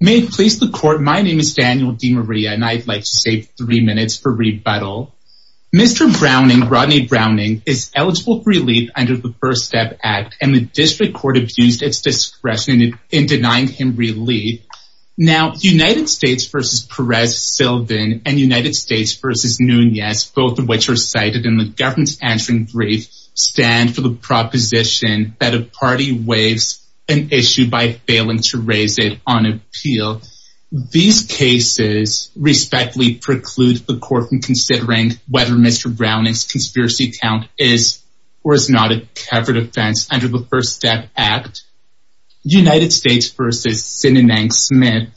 is eligible for relief under the First Step Act and the District Court abused its discretion in denying him relief. Now, United States v. Perez-Silvin and United States v. Nunez, both of which are cited in the government's answering brief, stand for the proposition that a party waives an issue of the first step. These cases respectfully preclude the court from considering whether Mr. Browning's conspiracy count is or is not a covered offense under the First Step Act. United States v. Sinanang-Smith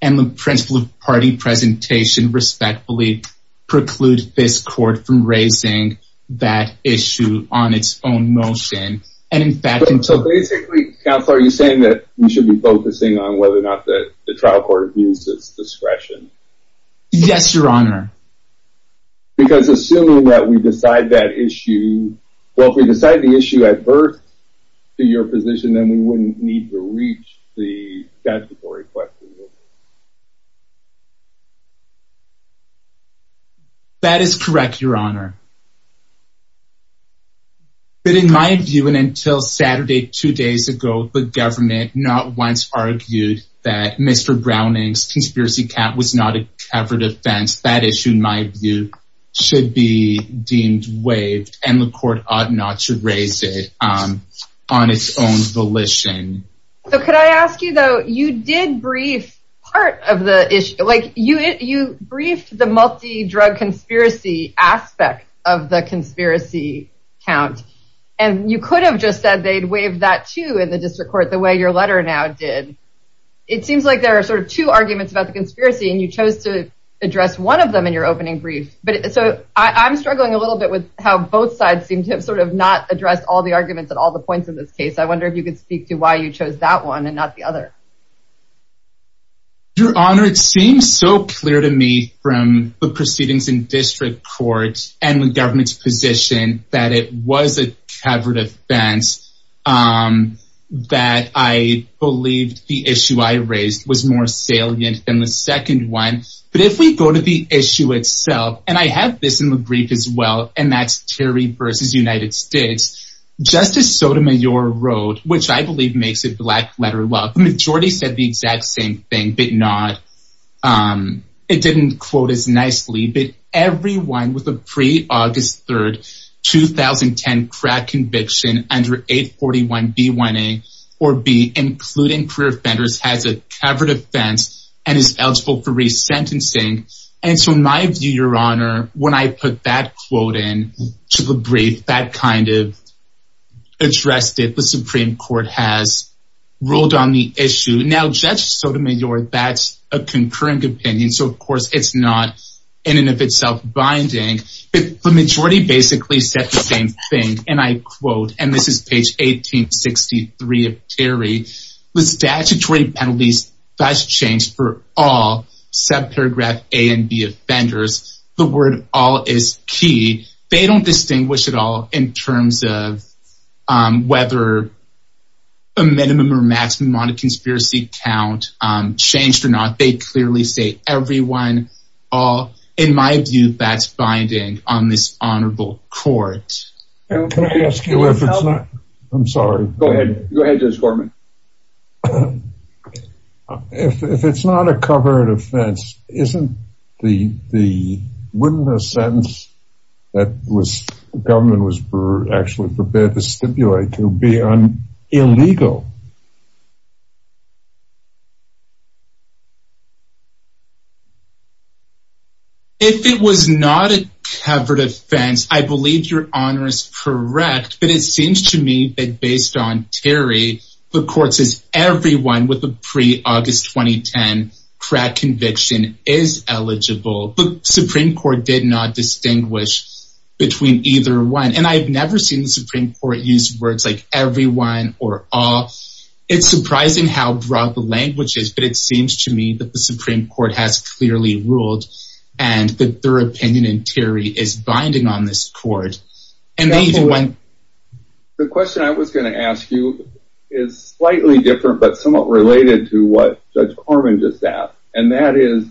and the principle of party presentation respectfully preclude this court from raising that issue on its own motion. But basically, Counselor, are you saying that we should be focusing on whether or not the trial court abused its discretion? Yes, Your Honor. Because assuming that we decide that issue, well, if we decide the issue at birth to your position, then we wouldn't need to reach the statutory question, would we? That is correct, Your Honor. But in my view, and until Saturday, two days ago, the government not once argued that Mr. Browning's conspiracy count was not a covered offense. That issue, in my view, should be deemed waived and the court ought not to raise it on its own volition. So could I ask you, though, you did brief part of the issue, like you briefed the multi-drug conspiracy aspect of the conspiracy count. And you could have just said they'd waive that too in the district court the way your letter now did. It seems like there are sort of two arguments about the conspiracy and you chose to address one of them in your opening brief. But so I'm struggling a little bit with how both sides seem to have sort of not addressed all the arguments at all the points in this case. I wonder if you could speak to why you chose that one and not the other. Your Honor, it seems so clear to me from the proceedings in district court and the government's position that it was a covered offense, that I believed the issue I raised was more salient than the second one. But if we go to the issue itself, and I have this in the brief as well, and that's Terry versus United States, Justice Sotomayor wrote, which I believe makes it black letter law. The majority said the exact same thing, but not, it didn't quote as nicely, but everyone with a pre-August 3rd 2010 crack conviction under 841B1A or B, including career offenders, has a covered offense and is eligible for resentencing. And so my view, Your Honor, when I put that quote in to the brief that kind of addressed it, the Supreme Court has ruled on the issue. Now, Judge Sotomayor, that's a concurring opinion, so of course it's not in and of itself binding. But the majority basically said the same thing, and I quote, and this is page 1863 of Terry. The statutory penalties, that's changed for all subparagraph A and B offenders. The word all is key. They don't distinguish at all in terms of whether a minimum or maximum amount of conspiracy count changed or not. They clearly say everyone, all. In my view, that's binding on this honorable court. Can I ask you if it's not, I'm sorry. Go ahead, go ahead Judge Gorman. If it's not a covered offense, isn't the, wouldn't a sentence that was, the government was actually prepared to stipulate to be illegal? If it was not a covered offense, I believe Your Honor is correct. But it seems to me that based on Terry, the court says everyone with a pre-August 2010 crack conviction is eligible. But Supreme Court did not distinguish between either one. And I've never seen the Supreme Court use words like everyone or all. It's surprising how broad the language is, but it seems to me that the Supreme Court has clearly ruled and that their opinion in Terry is binding on this court. The question I was going to ask you is slightly different, but somewhat related to what Judge Gorman just asked. And that is,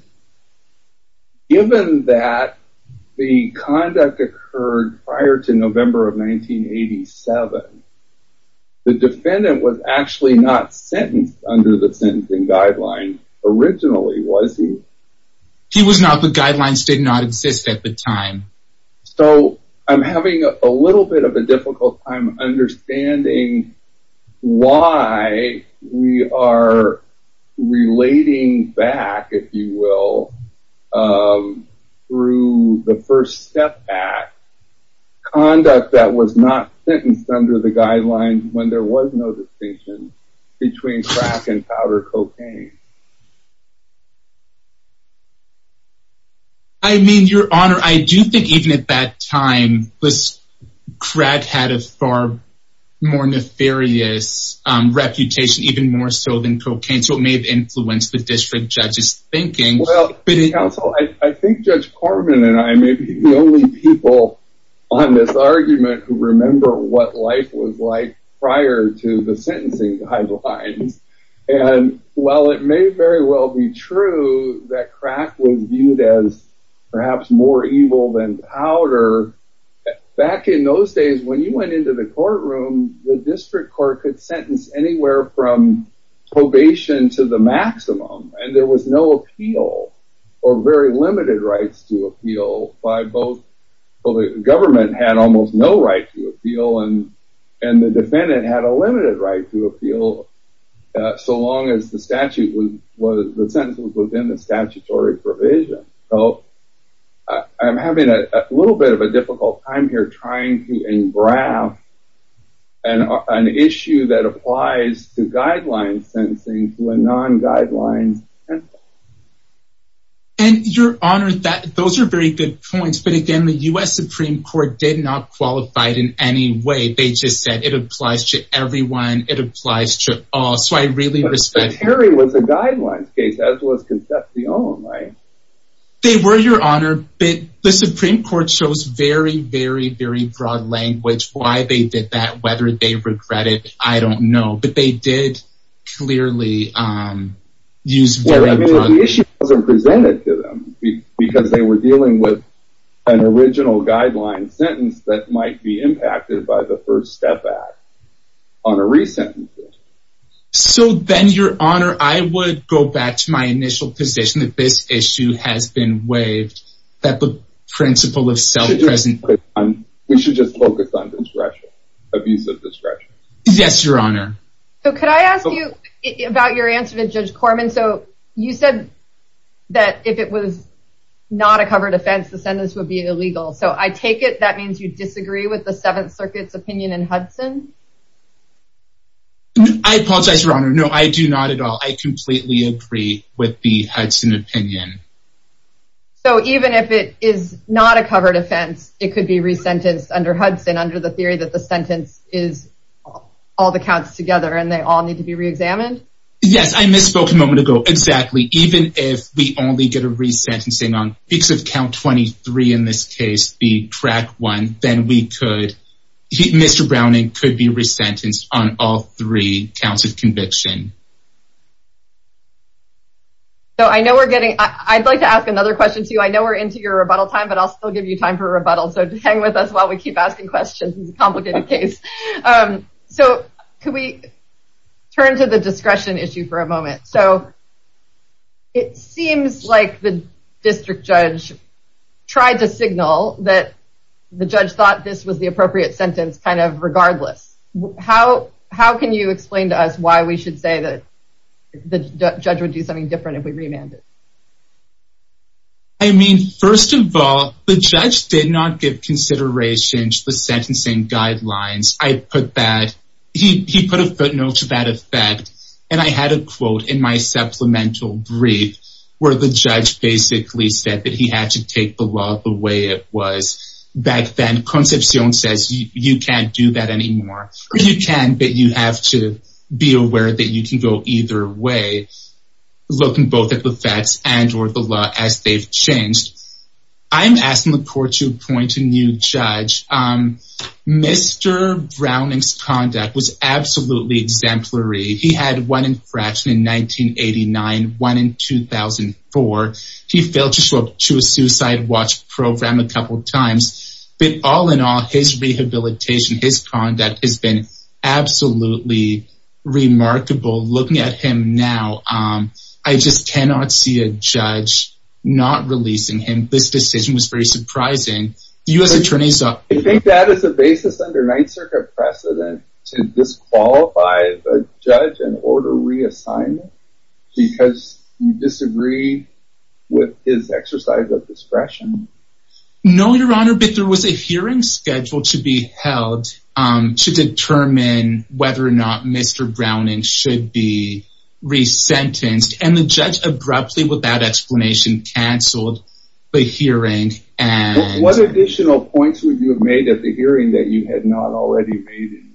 given that the conduct occurred prior to November of 1987, the defendant was actually not sentenced under the sentencing guidelines originally, was he? He was not, the guidelines did not exist at the time. So I'm having a little bit of a difficult time understanding why we are relating back, if you will, through the first step back conduct that was not sentenced under the guidelines when there was no distinction between crack and powder cocaine. I mean, Your Honor, I do think even at that time, crack had a far more nefarious reputation, even more so than cocaine. So it may have influenced the district judge's thinking. Well, counsel, I think Judge Gorman and I may be the only people on this argument who remember what life was like prior to the sentencing guidelines. And while it may very well be true that crack was viewed as perhaps more evil than powder, back in those days when you went into the courtroom, the district court could sentence anywhere from probation to the maximum. And there was no appeal or very limited rights to appeal by both. Well, the government had almost no right to appeal and the defendant had a limited right to appeal. So long as the statute was, the sentence was within the statutory provision. I'm having a little bit of a difficult time here trying to engrave an issue that applies to guidelines sentencing to a non guidelines. And Your Honor, those are very good points, but again, the US Supreme Court did not qualify it in any way. They just said it applies to everyone. It applies to all. But Harry was a guidelines case, as was Concepcion, right? They were, Your Honor, but the Supreme Court shows very, very, very broad language why they did that, whether they regret it, I don't know. But they did clearly use very broad language. Well, I mean, the issue wasn't presented to them because they were dealing with an original guideline sentence that might be impacted by the First Step Act on a re-sentencing. So then, Your Honor, I would go back to my initial position that this issue has been waived. That the principle of self-presentation... We should just focus on discretion, abuse of discretion. Yes, Your Honor. So could I ask you about your answer to Judge Corman? So you said that if it was not a covered offense, the sentence would be illegal. So I take it that means you disagree with the Seventh Circuit's opinion in Hudson? I apologize, Your Honor. No, I do not at all. I completely agree with the Hudson opinion. So even if it is not a covered offense, it could be re-sentenced under Hudson under the theory that the sentence is all the counts together and they all need to be re-examined? Yes, I misspoke a moment ago. Exactly. Even if we only get a re-sentencing on because of count 23 in this case, the track one, then we could... Mr. Browning could be re-sentenced on all three counts of conviction. I'd like to ask another question to you. I know we're into your rebuttal time, but I'll still give you time for rebuttal. So hang with us while we keep asking questions. It's a complicated case. So could we turn to the discretion issue for a moment? So it seems like the district judge tried to signal that the judge thought this was the appropriate sentence kind of regardless. How can you explain to us why we should say that the judge would do something different if we remanded? I mean, first of all, the judge did not give consideration to the sentencing guidelines. He put a footnote to that effect. And I had a quote in my supplemental brief where the judge basically said that he had to take the law the way it was back then. Concepcion says you can't do that anymore. You can, but you have to be aware that you can go either way, looking both at the facts and or the law as they've changed. I'm asking the court to appoint a new judge. Mr. Browning's conduct was absolutely exemplary. He had one infraction in 1989, one in 2004. He failed to show up to a suicide watch program a couple of times. But all in all, his rehabilitation, his conduct has been absolutely remarkable. Looking at him now, I just cannot see a judge not releasing him. This decision was very surprising. Do you think that is a basis under Ninth Circuit precedent to disqualify a judge and order reassignment because you disagree with his exercise of discretion? No, Your Honor, but there was a hearing scheduled to be held to determine whether or not Mr. Browning should be resentenced. And the judge abruptly, without explanation, canceled the hearing. What additional points would you have made at the hearing that you had not already made?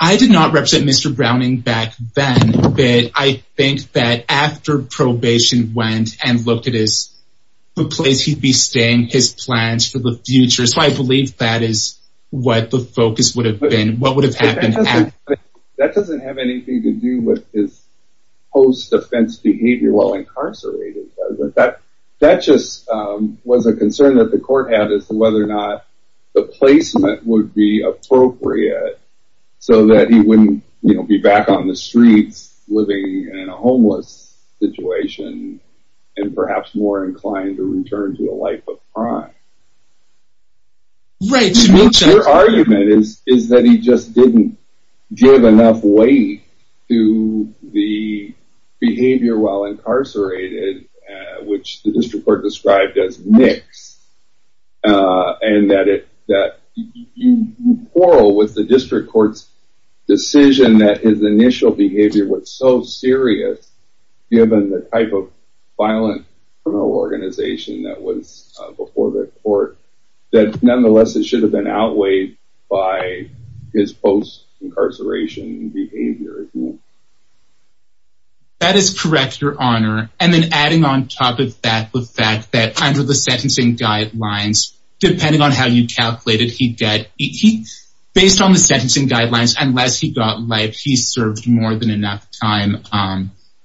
I did not represent Mr. Browning back then, but I think that after probation went and looked at his place, he'd be staying his plans for the future. So I believe that is what the focus would have been. That doesn't have anything to do with his post-offense behavior while incarcerated, does it? That just was a concern that the court had as to whether or not the placement would be appropriate so that he wouldn't be back on the streets living in a homeless situation and perhaps more inclined to return to a life of crime. Your argument is that he just didn't give enough weight to the behavior while incarcerated, which the district court described as mixed. And that you quarrel with the district court's decision that his initial behavior was so serious, given the type of violent criminal organization that was before the court, that nonetheless it should have been outweighed by his post-incarceration behavior. That is correct, Your Honor. And then adding on top of that the fact that under the sentencing guidelines, based on the sentencing guidelines, unless he got life, he served more than enough time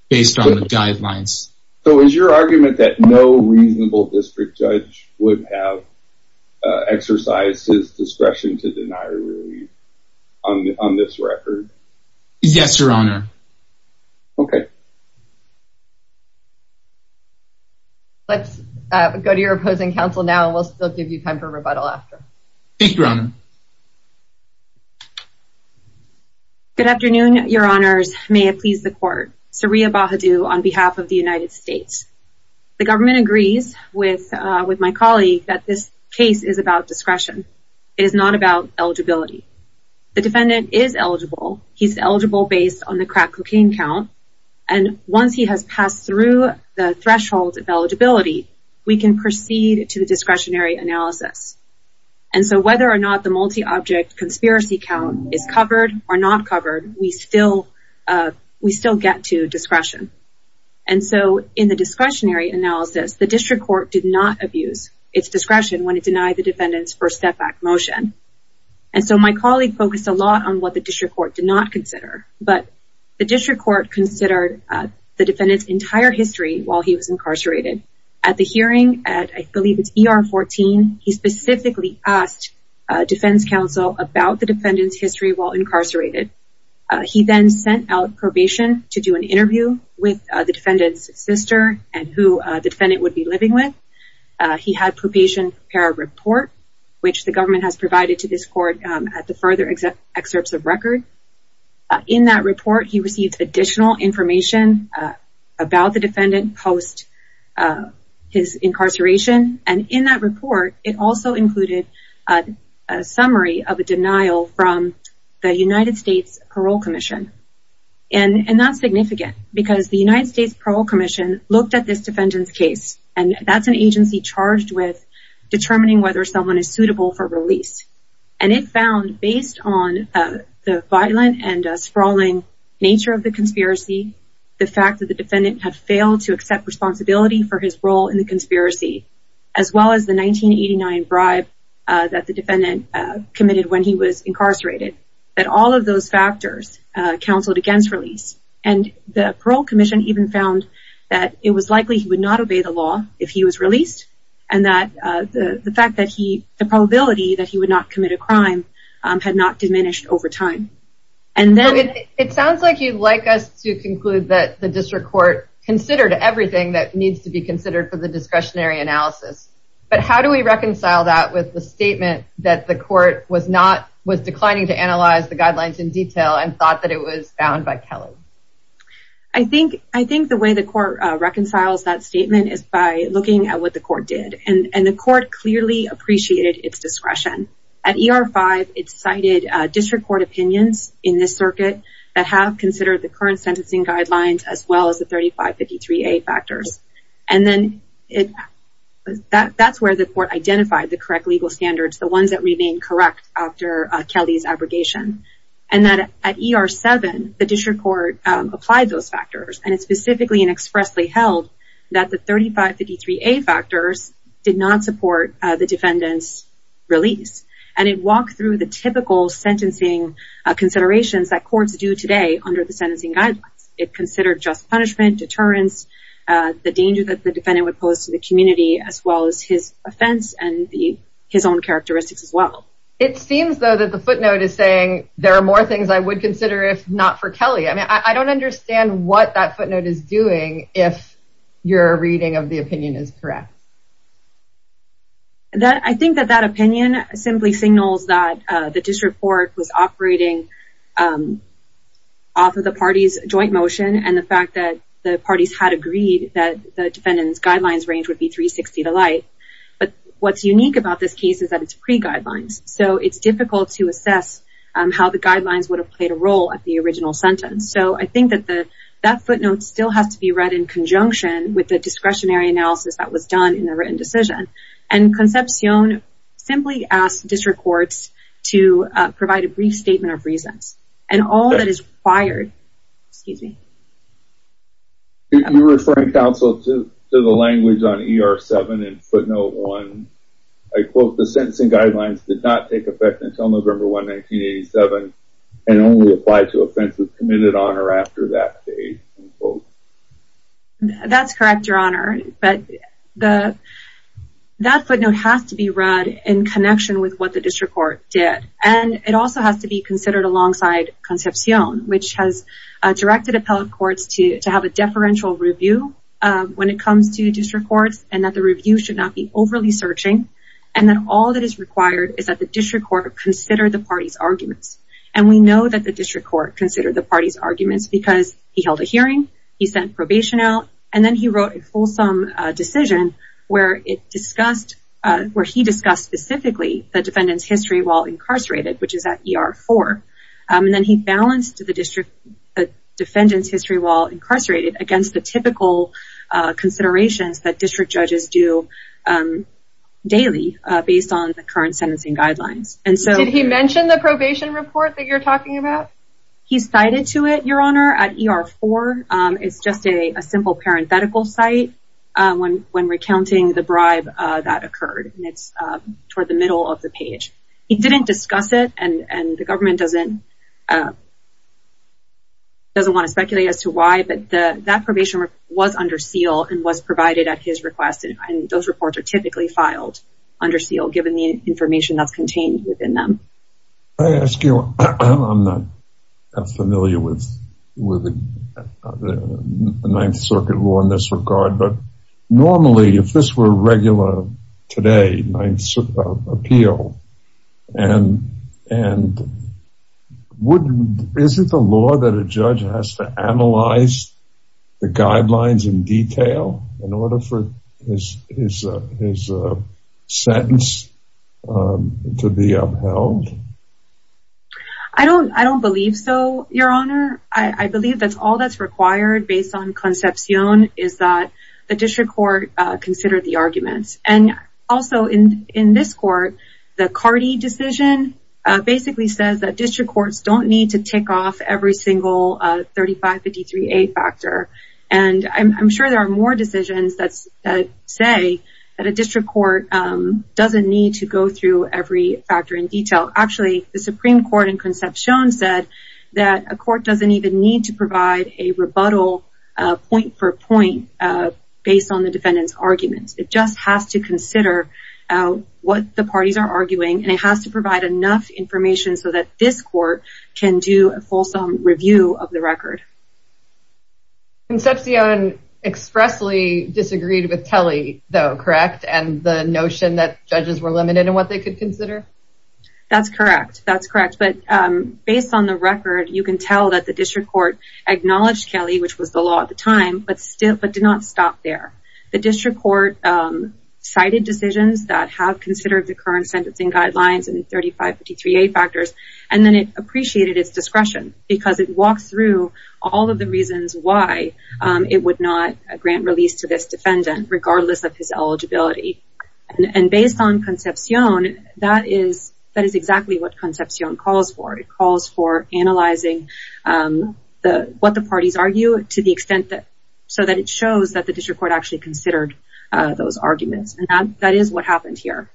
based on the guidelines. So is your argument that no reasonable district judge would have exercised his discretion to deny release on this record? Yes, Your Honor. Okay. Let's go to your opposing counsel now and we'll still give you time for rebuttal after. Thank you, Your Honor. Good afternoon, Your Honors. May it please the court. Saria Bahadu on behalf of the United States. The government agrees with my colleague that this case is about discretion. It is not about eligibility. The defendant is eligible. He's eligible based on the crack cocaine count. And once he has passed through the threshold of eligibility, we can proceed to the discretionary analysis. And so whether or not the multi-object conspiracy count is covered or not covered, we still get to discretion. And so in the discretionary analysis, the district court did not abuse its discretion when it denied the defendant's first step back motion. And so my colleague focused a lot on what the district court did not consider. But the district court considered the defendant's entire history while he was incarcerated. At the hearing, at I believe it's ER 14, he specifically asked defense counsel about the defendant's history while incarcerated. He then sent out probation to do an interview with the defendant's sister and who the defendant would be living with. He had probation prepare a report which the government has provided to this court at the further excerpts of record. In that report, he received additional information about the defendant post his incarceration. And in that report, it also included a summary of a denial from the United States Parole Commission. And that's significant because the United States Parole Commission looked at this defendant's case. And that's an agency charged with determining whether someone is suitable for release. And it found, based on the violent and sprawling nature of the conspiracy, the fact that the defendant had failed to accept responsibility for his role in the conspiracy, as well as the 1989 bribe that the defendant committed when he was incarcerated, that all of those factors counseled against release. And the parole commission even found that it was likely he would not obey the law if he was released. And that the fact that he, the probability that he would not commit a crime had not diminished over time. And then... It sounds like you'd like us to conclude that the district court considered everything that needs to be considered for the discretionary analysis. But how do we reconcile that with the statement that the court was declining to analyze the guidelines in detail and thought that it was found by Kelly? I think the way the court reconciles that statement is by looking at what the court did. And the court clearly appreciated its discretion. At ER-5, it cited district court opinions in this circuit that have considered the current sentencing guidelines as well as the 3553A factors. And then that's where the court identified the correct legal standards, the ones that remain correct after Kelly's abrogation. And that at ER-7, the district court applied those factors. And it specifically and expressly held that the 3553A factors did not support the defendant's release. And it walked through the typical sentencing considerations that courts do today under the sentencing guidelines. It considered just punishment, deterrence, the danger that the defendant would pose to the community, as well as his offense and his own characteristics as well. It seems, though, that the footnote is saying, there are more things I would consider if not for Kelly. I mean, I don't understand what that footnote is doing if your reading of the opinion is correct. I think that that opinion simply signals that the district court was operating off of the parties' joint motion and the fact that the parties had agreed that the defendant's guidelines range would be 360 to light. But what's unique about this case is that it's pre-guidelines. So it's difficult to assess how the guidelines would have played a role at the original sentence. So I think that that footnote still has to be read in conjunction with the discretionary analysis that was done in the written decision. And Concepcion simply asked district courts to provide a brief statement of reasons. And all that is required... Excuse me. You're referring, counsel, to the language on ER-7 and footnote 1. I quote, the sentencing guidelines did not take effect until November 1, 1987 and only applied to offenses committed on or after that date. That's correct, Your Honor. But that footnote has to be read in connection with what the district court did. And it also has to be considered alongside Concepcion, which has directed appellate courts to have a deferential review when it comes to district courts and that the review should not be overly searching. And that all that is required is that the district court consider the parties' arguments. And we know that the district court considered the parties' arguments because he held a hearing, he sent probation out, and then he wrote a fulsome decision where he discussed specifically the defendant's history while incarcerated, which is at ER-4. And then he balanced the defendant's history while incarcerated against the typical considerations that district judges do daily based on the current sentencing guidelines. Did he mention the probation report that you're talking about? He cited to it, Your Honor, at ER-4. It's just a simple parenthetical site when recounting the bribe that occurred. And it's toward the middle of the page. He didn't discuss it, and the government doesn't want to speculate as to why, but that probation report was under seal and was provided at his request, and those reports are typically filed under seal given the information that's contained within them. May I ask you, I'm not familiar with the Ninth Circuit law in this regard, but normally if this were regular today, Ninth Appeal, and is it the law that a judge has to analyze the guidelines in detail in order for his sentence to be upheld? I don't believe so, Your Honor. I believe that's all that's required based on Concepcion is that the district court consider the arguments. And also in this court, the Cardi decision basically says that district courts don't need to tick off every single 3553A factor. And I'm sure there are more decisions that say that a district court doesn't need to go through every factor in detail. Actually, the Supreme Court in Concepcion said that a court doesn't even need to provide a rebuttal point for point based on the defendant's arguments. It just has to consider what the parties are arguing, and it has to provide enough information so that this court can do a fulsome review of the record. Concepcion expressly disagreed with Telly, though, correct? And the notion that judges were limited in what they could consider? That's correct. That's correct. But based on the record, you can tell that the district court acknowledged Kelly, which was the law at the time, but did not stop there. The district court cited decisions that have considered the current sentencing guidelines and 3553A factors, and then it appreciated its discretion because it walks through all of the reasons why it would not grant release to this defendant, regardless of his eligibility. And based on Concepcion, that is exactly what Concepcion calls for. It calls for analyzing what the parties argue so that it shows that the district court actually considered those arguments. And that is what happened here.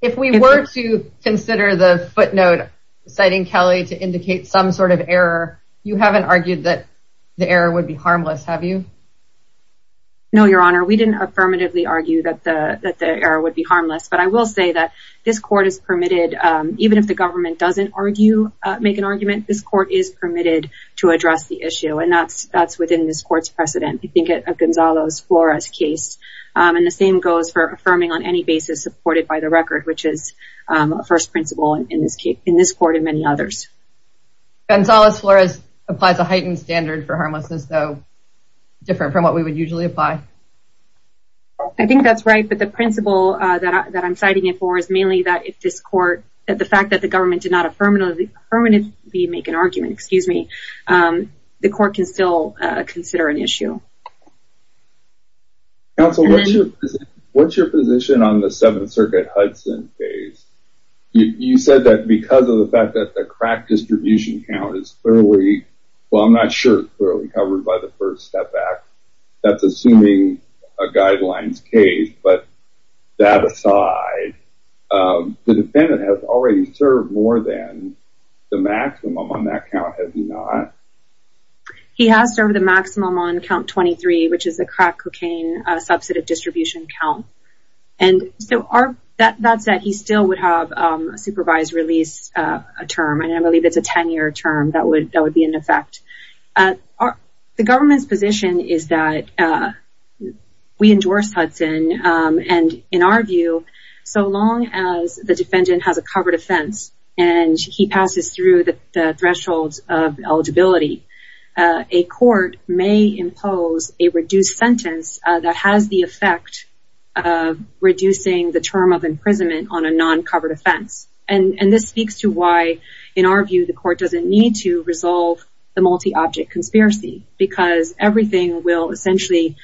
If we were to consider the footnote citing Kelly to indicate some sort of error, you haven't argued that the error would be harmless, have you? No, Your Honor, we didn't affirmatively argue that the error would be harmless, but I will say that this court is permitted, even if the government doesn't make an argument, this court is permitted to address the issue, and that's within this court's precedent. I think of Gonzalo Flores' case, and the same goes for affirming on any basis supported by the record, which is a first principle in this court and many others. Gonzalo Flores applies a heightened standard for harmlessness, though, different from what we would usually apply. I think that's right, but the principle that I'm citing it for is mainly that if this court, the fact that the government did not affirmatively make an argument, the court can still consider an issue. Counsel, what's your position on the Seventh Circuit Hudson case? You said that because of the fact that the crack distribution count is clearly, well, I'm not sure it's clearly covered by the First Step Act. That's assuming a guidelines case, but that aside, the defendant has already served more than the maximum on that count, has he not? He has served the maximum on count 23, which is the crack cocaine substantive distribution count, and so that said, he still would have a supervised release term, and I believe it's a 10-year term that would be in effect. The government's position is that we endorse Hudson, and in our view, so long as the defendant has a covered offense and he passes through the thresholds of eligibility, a court may impose a reduced sentence that has the effect of reducing the term of imprisonment on a non-covered offense, and this speaks to why, in our view, the court doesn't need to resolve the multi-object conspiracy, because everything will essentially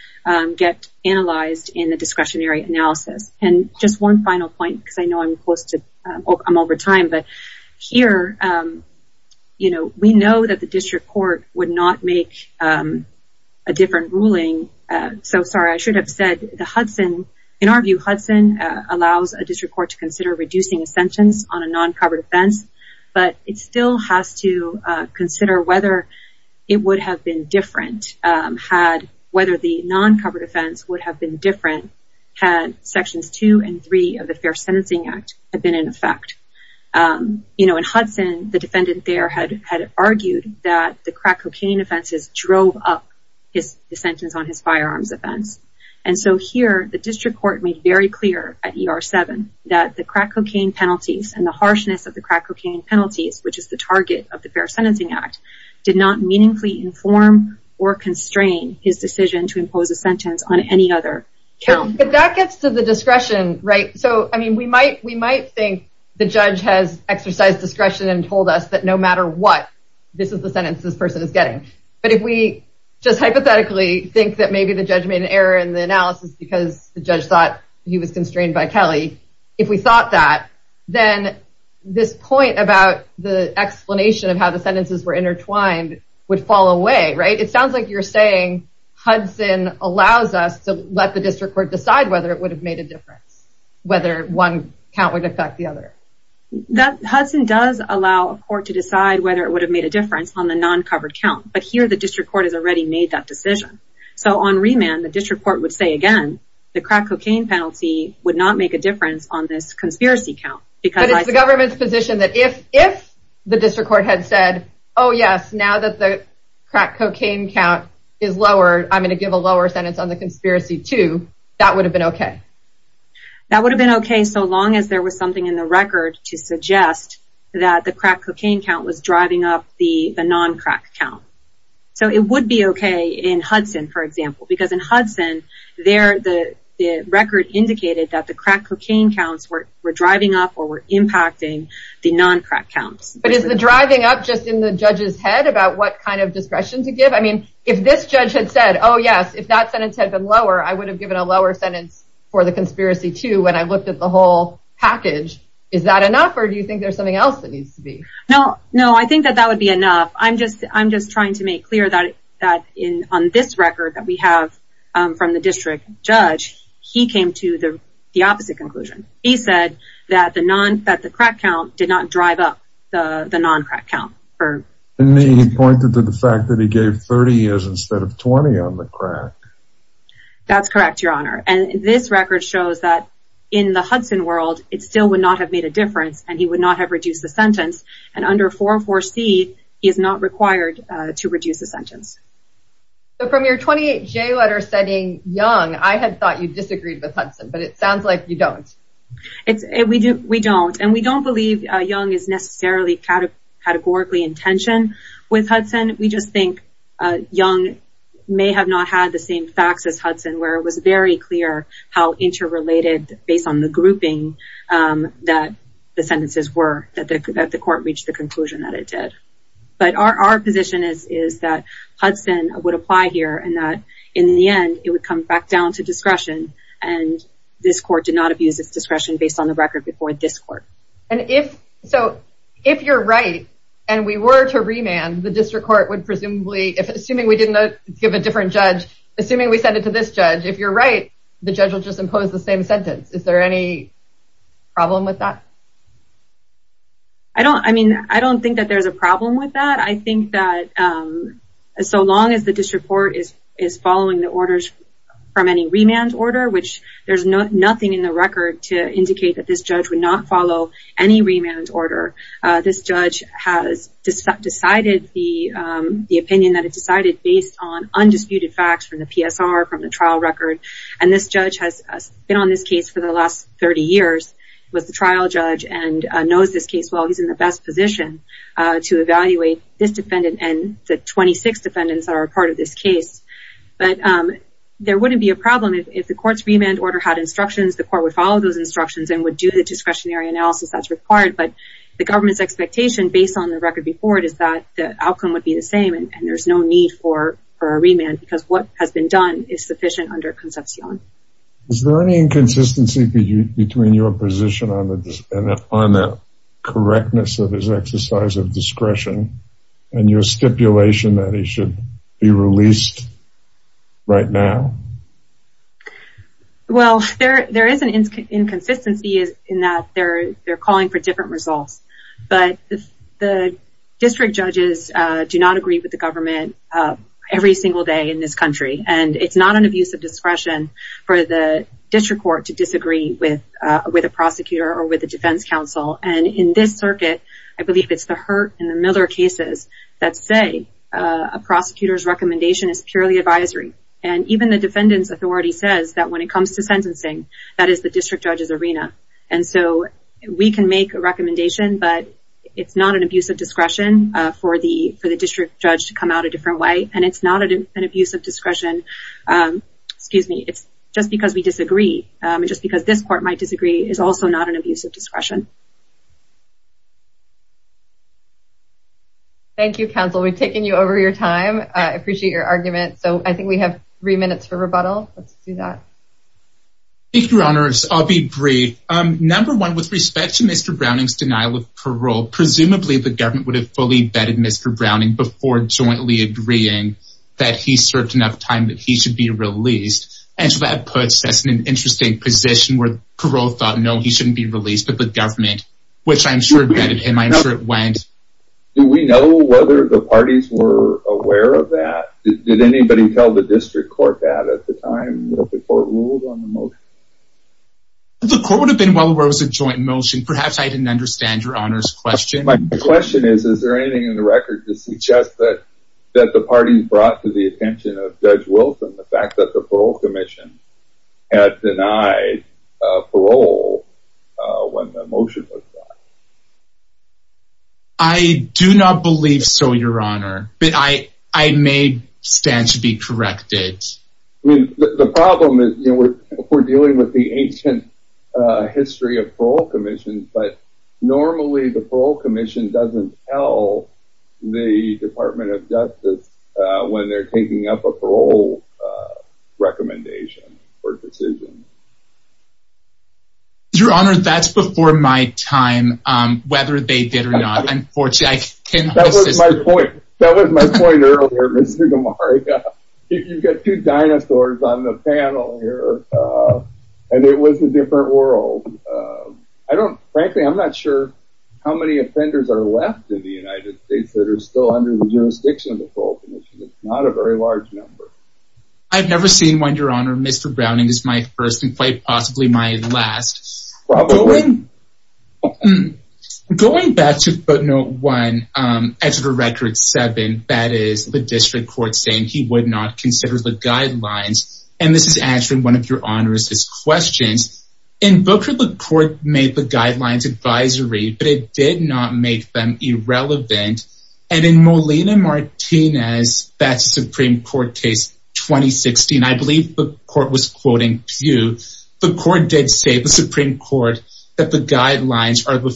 get analyzed in the discretionary analysis, and just one final point, because I know I'm close to, I'm over time, but here, you know, we know that the district court would not make a different ruling, so sorry, I should have said the Hudson, in our view, Hudson allows a district court to consider reducing a sentence on a non-covered offense, but it still has to consider whether it would have been different had, whether the non-covered offense would have been different had sections 2 and 3 of the Fair Sentencing Act had been in effect. You know, in Hudson, the defendant there had argued that the crack cocaine offenses drove up the sentence on his firearms offense, and so here, the district court made very clear at ER-7 that the crack cocaine penalties and the harshness of the crack cocaine penalties, which is the target of the Fair Sentencing Act, did not meaningfully inform or constrain his decision to impose a sentence on any other count. But that gets to the discretion, right? So, I mean, we might think the judge has exercised discretion and told us that no matter what, this is the sentence this person is getting, but if we just hypothetically think that maybe the judge made an error in the analysis because the judge thought he was constrained by Kelly, if we thought that, then this point about the explanation of how the sentences were intertwined would fall away, right? It sounds like you're saying Hudson allows us to let the district court decide whether it would have made a difference, whether one count would affect the other. Hudson does allow a court to decide whether it would have made a difference on the non-covered count, but here the district court has already made that decision. So on remand, the district court would say again, the crack cocaine penalty would not make a difference on this conspiracy count. But it's the government's position that if the district court had said, oh yes, now that the crack cocaine count is lower, I'm going to give a lower sentence on the conspiracy too, that would have been okay. That would have been okay so long as there was something in the record to suggest that the crack cocaine count was driving up the non-crack count. So it would be okay in Hudson, for example. Because in Hudson, the record indicated that the crack cocaine counts were driving up or were impacting the non-crack counts. But is the driving up just in the judge's head about what kind of discretion to give? I mean, if this judge had said, oh yes, if that sentence had been lower, I would have given a lower sentence for the conspiracy too when I looked at the whole package. Is that enough, or do you think there's something else that needs to be? No, I think that that would be enough. I'm just trying to make clear that on this record that we have from the district judge, he came to the opposite conclusion. He said that the crack count did not drive up the non-crack count. He pointed to the fact that he gave 30 years instead of 20 on the crack. That's correct, Your Honor. And this record shows that in the Hudson world, it still would not have made a difference and he would not have reduced the sentence. And under 404C, he is not required to reduce the sentence. So from your 28J letter stating Young, I had thought you disagreed with Hudson, but it sounds like you don't. We don't. And we don't believe Young is necessarily categorically in tension with Hudson. We just think Young may have not had the same facts as Hudson where it was very clear how interrelated based on the grouping that the sentences were that the court reached the conclusion that it did. But our position is that Hudson would apply here and that in the end, it would come back down to discretion. And this court did not abuse its discretion based on the record before this court. So if you're right and we were to remand, the district court would presumably, assuming we didn't give a different judge, assuming we said it to this judge, if you're right, the judge will just impose the same sentence. Is there any problem with that? I don't think that there's a problem with that. I think that so long as the district court is following the orders from any remand order, which there's nothing in the record to indicate that this judge would not follow any remand order, this judge has decided the opinion that it decided based on the record and this judge has been on this case for the last 30 years, was the trial judge and knows this case well. He's in the best position to evaluate this defendant and the 26 defendants that are a part of this case. But there wouldn't be a problem if the court's remand order had instructions, the court would follow those instructions and would do the discretionary analysis that's required, but the government's expectation based on the record before it is that the outcome would be the same and there's no need for a remand because what has been done is sufficient under concepcion. Is there any inconsistency between your position on the correctness of his exercise of discretion and your stipulation that he should be released right now? Well, there is an inconsistency in that they're calling for different results. But the district judges do not agree with the government every single day in this country and it's not an abuse of discretion for the district court to disagree with a prosecutor or with a defense counsel. And in this circuit, I believe it's the Hurt and the Miller cases that say a prosecutor's recommendation is purely advisory. And even the defendant's authority says that when it comes to sentencing, that is the district judge's arena. And so we can make a recommendation, but it's not an abuse of discretion for the district judge to come out a different way. And it's not an abuse of discretion just because we disagree. Just because this court might disagree is also not an abuse of discretion. Thank you, counsel. We've taken you over your time. I appreciate your argument. So I think we have three minutes for rebuttal. Let's do that. Thank you, Your Honors. I'll be brief. Number one, with respect to Mr. Browning's denial of parole, presumably the government would have fully vetted Mr. Browning before jointly agreeing that he served enough time that he should be released. And so that puts us in an interesting position where parole thought, no, he shouldn't be released, but the government, which I'm sure vetted him, I'm sure it went. Do we know whether the parties were aware of that? Did anybody tell the district court that at the time that the court ruled on the motion? The court would have been well aware it was a joint motion. Perhaps I didn't understand Your Honor's question. My question is, is there anything in the record to suggest that the parties brought to the attention of Judge Wilson the fact that the parole commission had denied parole when the motion was brought? I do not believe so, Your Honor. But I may stand to be corrected. The problem is we're dealing with the ancient history of parole commissions, but normally the parole commission doesn't tell the Department of Justice when they're taking up a parole recommendation or decision. Your Honor, that's before my time, whether they did or not. That was my point earlier, Mr. Gamarra. You've got two dinosaurs on the panel here, and it was a different world. Frankly, I'm not sure how many offenders are left in the United States that are still under the jurisdiction of the parole commission. It's not a very large number. I've never seen one, Your Honor. Mr. Browning is my first and quite possibly my last. Probably. Going back to footnote one, Exeter Record 7, that is the district court saying he would not consider the guidelines, and this is answering one of Your Honor's questions. In Booker, the court made the guidelines advisory, but it did not make them irrelevant. And in Molina-Martinez, that Supreme Court case 2016, I believe the court was quoting Pew, the court did say, the Supreme Court, that the guidelines are the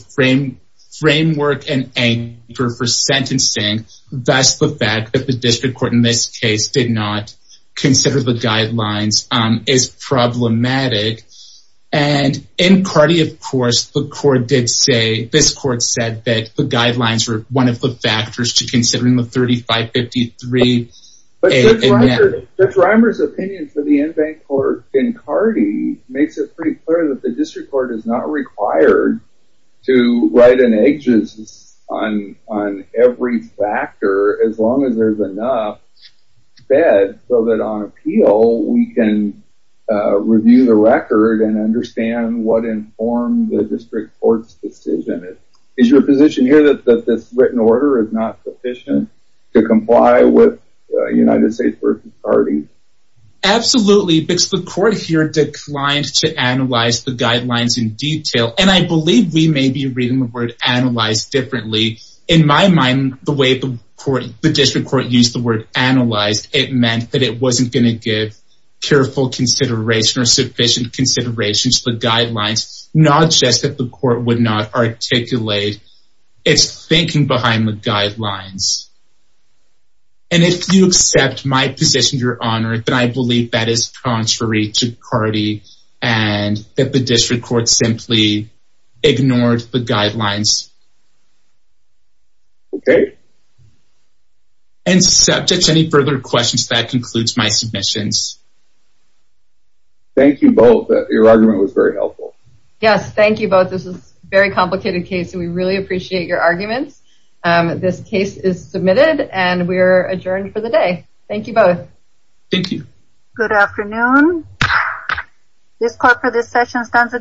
framework and anchor for sentencing thus the fact that the district court in this case did not consider the guidelines is problematic. And in Cardi, of course, the court did say, this court said that the guidelines were one of the factors to considering the 3553A. Judge Reimer's opinion for the in-bank court in Cardi makes it pretty clear that the district court is not required to write an aegis on every factor, as long as there's enough bed so that on appeal, we can review the record and understand what informed the district court's decision. Is your position here that this written order is not sufficient to comply with United States v. Cardi? Absolutely, because the court here declined to analyze the guidelines in detail, and I believe we may be reading the word analyze differently. In my mind, the way the district court used the word analyze, it meant that it wasn't going to give careful consideration or sufficient consideration to the guidelines, not just that the court would not articulate its thinking behind the guidelines. And if you accept my position, Your Honor, then I believe that is contrary to Cardi and that the district court simply ignored the guidelines. Okay. And subjects, any further questions? That concludes my submissions. Thank you both. Your argument was very helpful. Yes, thank you both. This is a very complicated case, and we really appreciate your arguments. This case is submitted, and we are adjourned for the day. Thank you both. Thank you. Good afternoon. This court for this session stands adjourned.